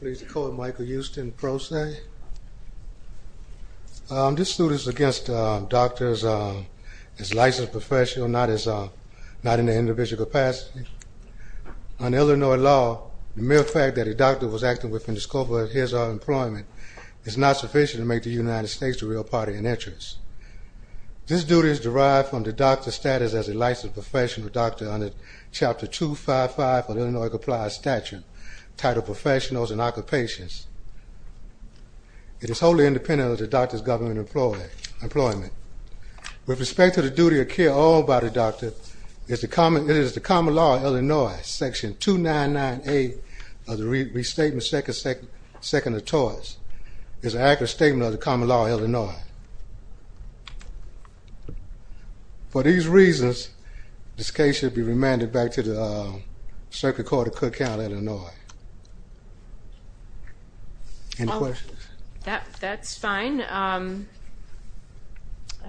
Please call Michael Houston Pro Se. This suit is against doctors as licensed professionals, not in the individual capacity. On Illinois law, the mere fact that a doctor was acting within the scope of his or her employment is not sufficient to make the United States the real party in interest. This duty is derived from the doctor's status as a licensed professional doctor under Chapter 255 of the Illinois Compliance Statute, titled Professionals and Occupations. It is wholly independent of the doctor's government employment. With respect to the duty of care all by the doctor, it is the common law of Illinois, section 299A of the Restatement Second Atolls. It is an accurate statement of the common law of Illinois. For these reasons, this case should be remanded back to the Circuit Court of Cook County, Illinois. Any questions? That's fine. I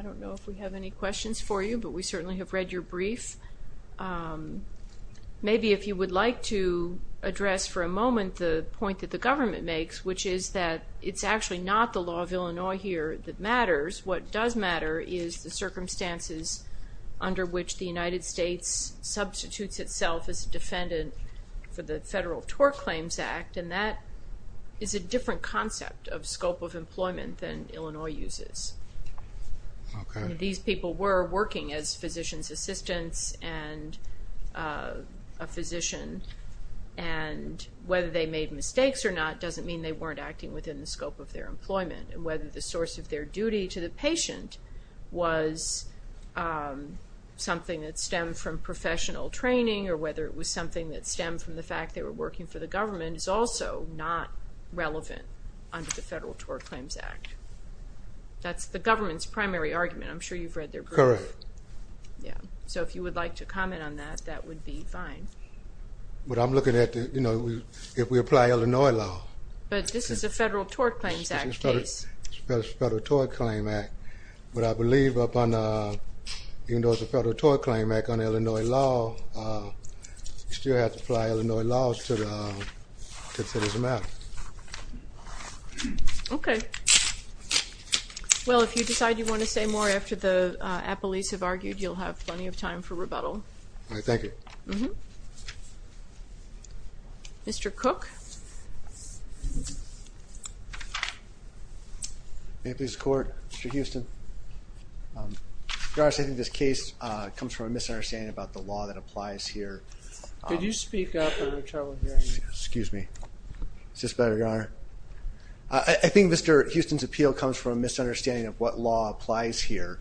don't know if we have any questions for you, but we certainly have read your brief. Maybe if you would like to address for a moment the point that the What does matter is the circumstances under which the United States substitutes itself as a defendant for the Federal Tort Claims Act, and that is a different concept of scope of employment than Illinois uses. These people were working as physician's assistants and a physician, and whether they made mistakes or not doesn't mean they weren't acting within the scope of their employment. Whether the source of their duty to the patient was something that stemmed from professional training or whether it was something that stemmed from the fact they were working for the government is also not relevant under the Federal Tort Claims Act. That's the government's primary argument. I'm sure you've read their brief. Correct. So if you would like to comment on that, that would be fine. But I'm looking at, you know, if we apply Illinois law. But this is a Federal Tort Claims Act case. This is a Federal Tort Claims Act, but I believe even though it's a Federal Tort Claims Act under Illinois law, you still have to apply Illinois laws to the citizen matter. Okay, well if you decide you want to say more after the Mr. Cook. May it please the Court. Mr. Houston. Your Honor, I think this case comes from a misunderstanding about the law that applies here. Could you speak up? Excuse me. Is this better, Your Honor? I think Mr. Houston's appeal comes from a misunderstanding of what law applies here.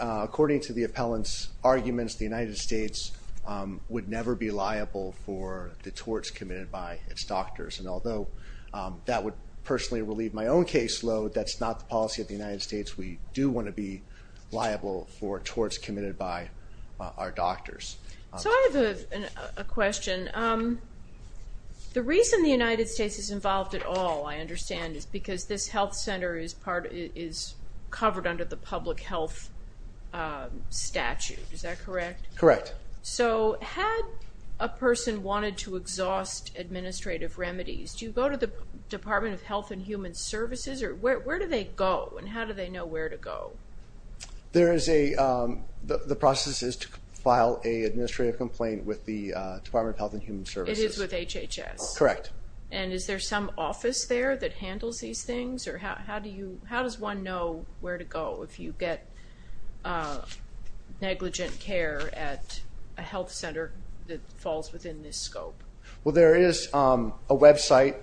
According to the appellant's opinion, the United States would never be liable for the torts committed by its doctors. And although that would personally relieve my own caseload, that's not the policy of the United States. We do want to be liable for torts committed by our doctors. So I have a question. The reason the United States is involved at all, I understand, is because this health center is covered under the HHS. Correct. So had a person wanted to exhaust administrative remedies, do you go to the Department of Health and Human Services or where do they go and how do they know where to go? There is a, the process is to file a administrative complaint with the Department of Health and Human Services. It is with HHS? Correct. And is there some office there that handles these things or how do you, how does one know where to go if you get negligent care at a health center that falls within this scope? Well there is a website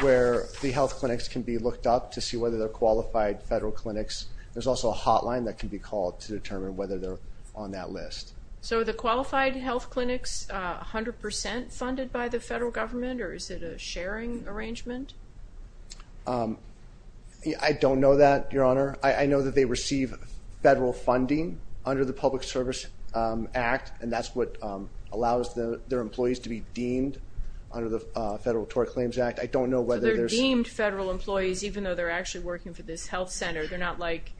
where the health clinics can be looked up to see whether they're qualified federal clinics. There's also a hotline that can be called to determine whether they're on that list. So are the qualified health clinics 100% funded by the receive federal funding under the Public Service Act and that's what allows the their employees to be deemed under the Federal Tort Claims Act. I don't know whether they're deemed federal employees even though they're actually working for this health center. They're not like,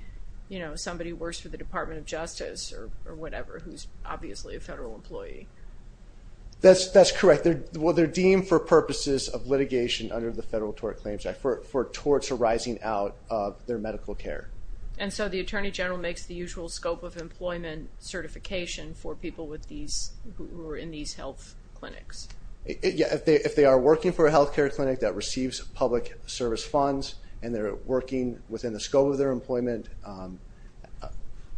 you know, somebody works for the Department of Justice or whatever who's obviously a federal employee. That's, that's correct. They're, well they're deemed for purposes of litigation under the Federal Tort Claims Act for towards a rising out of their medical care. And so the Attorney General makes the usual scope of employment certification for people with these, who are in these health clinics? Yeah, if they are working for a health care clinic that receives public service funds and they're working within the scope of their employment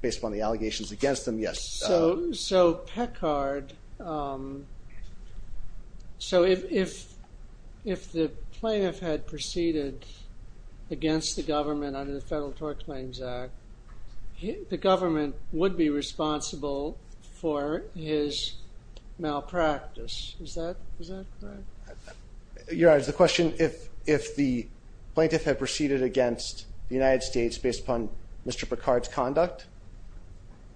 based upon the allegations against them, yes. So, so if the plaintiff had proceeded against the government under the Federal Tort Claims Act, the government would be responsible for his malpractice. Is that, is that correct? Your Honor, the question, if, if the plaintiff had proceeded against the United States based upon Mr. Picard's conduct,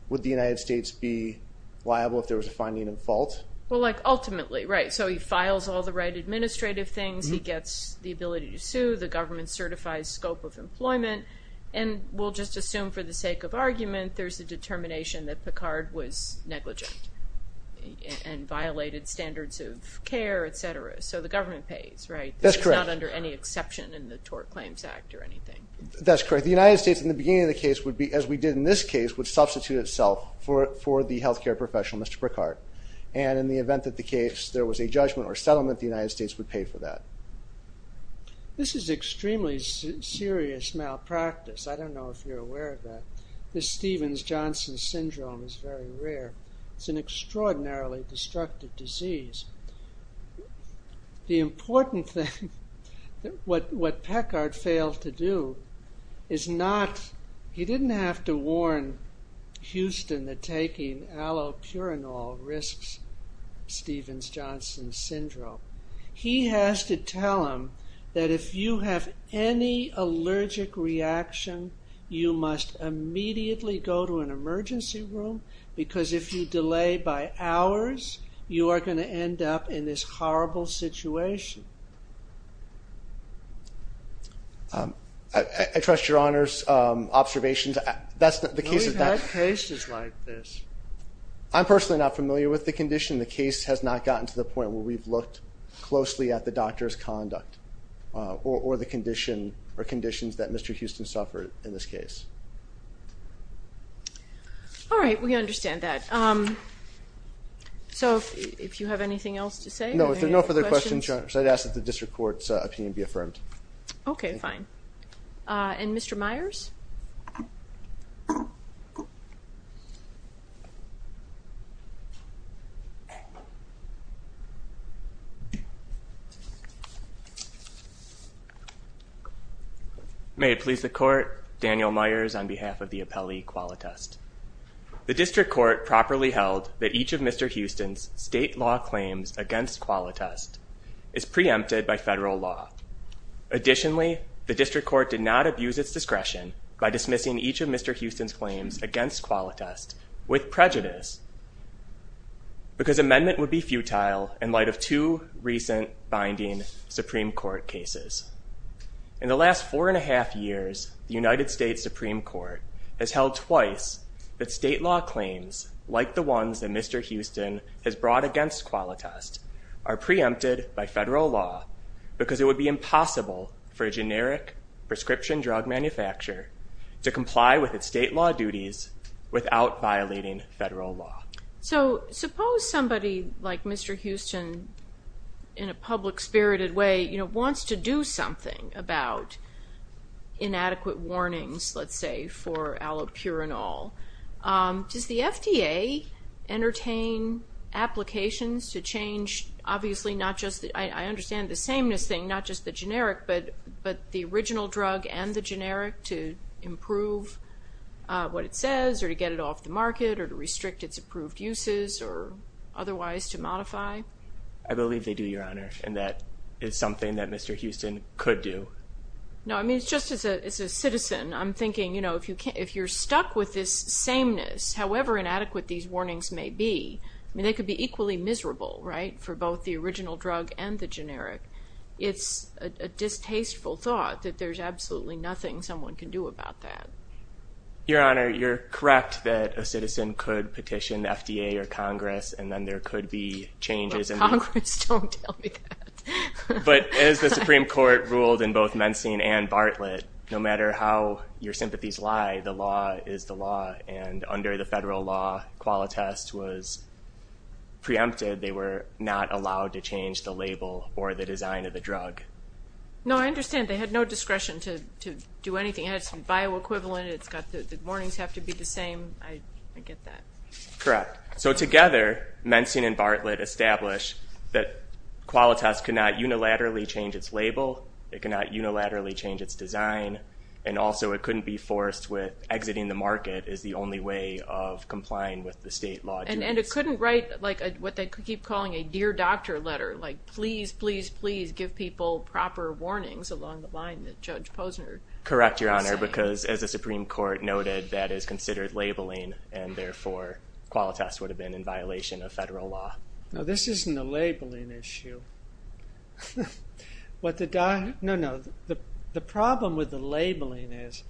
would the United States be liable if there was a finding in fault? Well, like ultimately, right, so he files all the right administrative things, he gets the ability to sue, the government certifies scope of employment, and we'll just assume for the sake of argument there's a determination that Picard was negligent and violated standards of care, etc. So the government pays, right? That's correct. It's not under any exception in the Tort Claims Act or anything. That's correct. The United States in the beginning of the case would be, as we did in this case, would substitute itself for, for the health care professional, Mr. Picard. And in the event that the case, there was a settlement, the United States would pay for that. This is extremely serious malpractice. I don't know if you're aware of that. This Stevens-Johnson syndrome is very rare. It's an extraordinarily destructive disease. The important thing, what, what Picard failed to do is not, he didn't have to warn Houston that taking allopurinol risks Stevens-Johnson syndrome. He has to tell them that if you have any allergic reaction, you must immediately go to an emergency room because if you delay by hours, you are going to end up in this horrible situation. I trust your Honor's observations. That's the case. We've had cases like this. I'm personally not familiar with the condition. The case has not gotten to the point where we've looked closely at the doctor's conduct or the condition or conditions that Mr. Houston suffered in this case. All right, we understand that. So if you have anything else to say? No, if there are no further questions, I'd ask that the District Court properly held that each of Mr. Houston's state law claims against Qualitas is preempted by federal law. Additionally, the District Court did not abuse its discretion by dismissing each of Mr. Houston's claims against Qualitas with prejudice because amendment would be futile in light of two recent binding Supreme Court cases. In the last four and a half years, the United States Supreme Court has held twice that state law claims, like the ones that Mr. Houston has brought against Qualitas, are preempted by federal law because it would be impossible for a generic prescription drug manufacturer to comply with its state law duties without violating federal law. So suppose somebody like Mr. Houston, in a public-spirited way, wants to do something about inadequate warnings, let's say, for allopurinol. Does the FDA entertain applications to change, obviously not just, I understand the sameness thing, not generic, to improve what it says or to get it off the market or to restrict its approved uses or otherwise to modify? I believe they do, Your Honor, and that is something that Mr. Houston could do. No, I mean, just as a citizen, I'm thinking, you know, if you're stuck with this sameness, however inadequate these warnings may be, they could be equally miserable, right, for both the original drug and the generic. It's a distasteful thought that there's absolutely nothing someone can do about that. Your Honor, you're correct that a citizen could petition the FDA or Congress, and then there could be changes. But Congress, don't tell me that. But as the Supreme Court ruled in both Mensing and Bartlett, no matter how your sympathies lie, the law is the law, and under the federal law, Qualitas was preempted. They were not allowed to change the label or the design of the do anything. It has some bioequivalent, it's got the warnings have to be the same. I get that. Correct. So together, Mensing and Bartlett established that Qualitas could not unilaterally change its label, it cannot unilaterally change its design, and also it couldn't be forced with exiting the market is the only way of complying with the state law. And it couldn't write like what they keep calling a dear doctor letter, like please, please, please give people proper warnings along the line that Judge Posner... Correct, Your Honor, because as the Supreme Court noted, that is considered labeling, and therefore Qualitas would have been in violation of federal law. No, this isn't a labeling issue. What the guy, no, no, the problem with the labeling is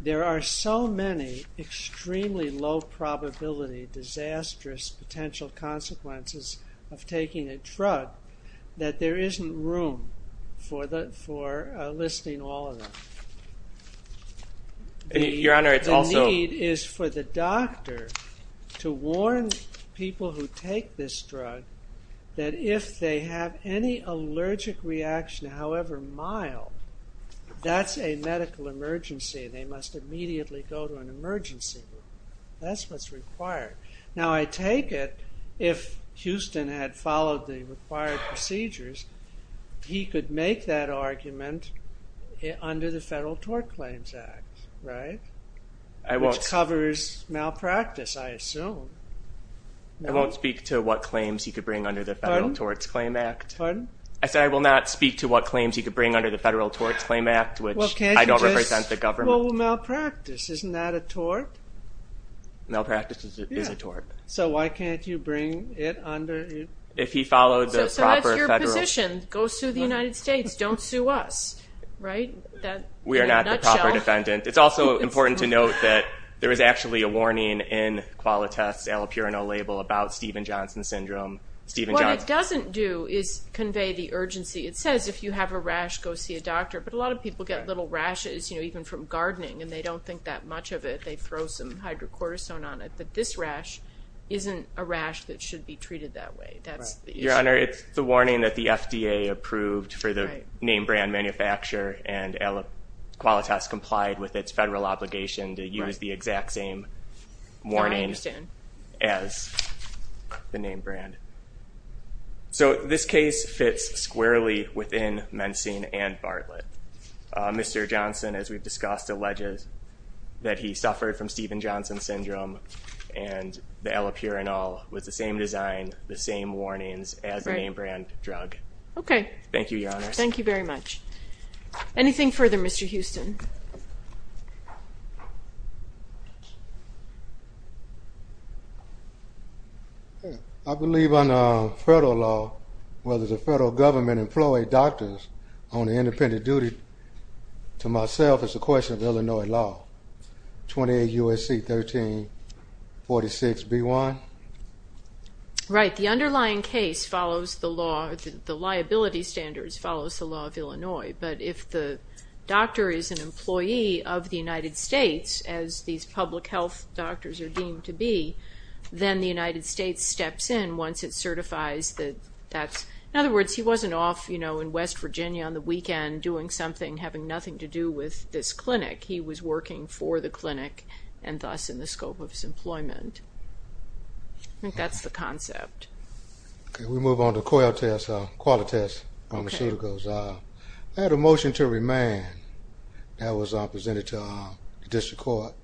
there are so many extremely low probability disastrous potential consequences of taking a drug that there isn't room for listing all of them. Your Honor, it's also... The need is for the doctor to warn people who take this drug that if they have any allergic reaction, however mild, that's a medical emergency. They must immediately go to an emergency room. That's what's required. Now I take it if Houston had required procedures, he could make that argument under the Federal Tort Claims Act, right? Which covers malpractice, I assume. I won't speak to what claims he could bring under the Federal Torts Claim Act. I said I will not speak to what claims he could bring under the Federal Torts Claim Act, which I don't represent the government. Well, malpractice, isn't that a tort? Malpractice is a tort. So why can't you bring it under... If he followed the proper Federal... So that's your position. Go sue the United States. Don't sue us. Right? We are not the proper defendant. It's also important to note that there is actually a warning in Qualitas' allopurinol label about Steven Johnson syndrome. What it doesn't do is convey the urgency. It says if you have a rash, go see a doctor, but a lot of people get little rashes, you know, even from gardening and they don't think that much of it, they throw some hydrocortisone on it, but this rash isn't a rash that should be treated that way. That's the issue. Your Honor, it's the warning that the FDA approved for the name-brand manufacturer and Qualitas complied with its federal obligation to use the exact same warning as the name-brand. So this case fits squarely within mensing and Bartlett. Mr. Johnson, as we've discussed, alleges that he suffered from Steven Johnson syndrome and the allopurinol with the same design, the same warnings as the name-brand drug. Okay. Thank you, Your Honor. Thank you very much. Anything further, Mr. Houston? I believe under federal law, whether the federal government employs doctors on Illinois law, 28 U.S.C. 1346b1? Right, the underlying case follows the law, the liability standards follows the law of Illinois, but if the doctor is an employee of the United States, as these public health doctors are deemed to be, then the United States steps in once it certifies that that's, in other words, he wasn't off, you know, in West Virginia on the weekend doing something having nothing to do with this clinic. He was working for the clinic and thus in the scope of his employment. I think that's the concept. Okay, we move on to Coyle test, qualitas, from the pseudocodes. I had a motion to remand that was presented to the district court.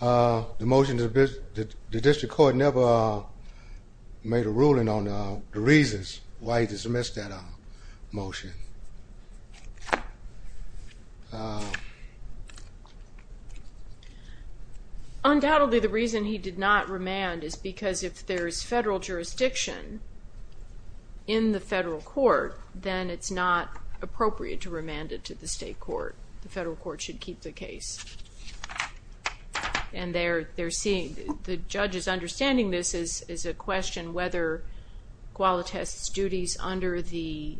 The motion, the district court never made a ruling on the reasons why he missed that motion. Undoubtedly, the reason he did not remand is because if there is federal jurisdiction in the federal court, then it's not appropriate to remand it to the state court. The federal court should keep the case, and they're seeing, the judges understanding this is a question whether qualitas duties under the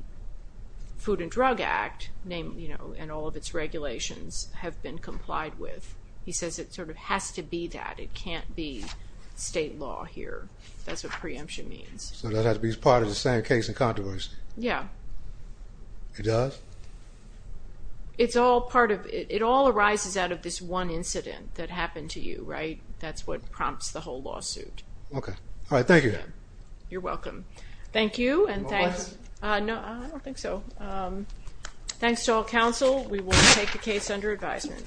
Food and Drug Act name, you know, and all of its regulations have been complied with. He says it sort of has to be that. It can't be state law here. That's what preemption means. So that has to be part of the same case in controversy? Yeah. It does? It's all part of, it all arises out of this one incident that happened to you, right? That's what prompts the whole lawsuit. Okay. All right. Thank you. You're welcome. Thank you, and thanks. No, I don't think so. Thanks to all counsel. We will take the case under advisement.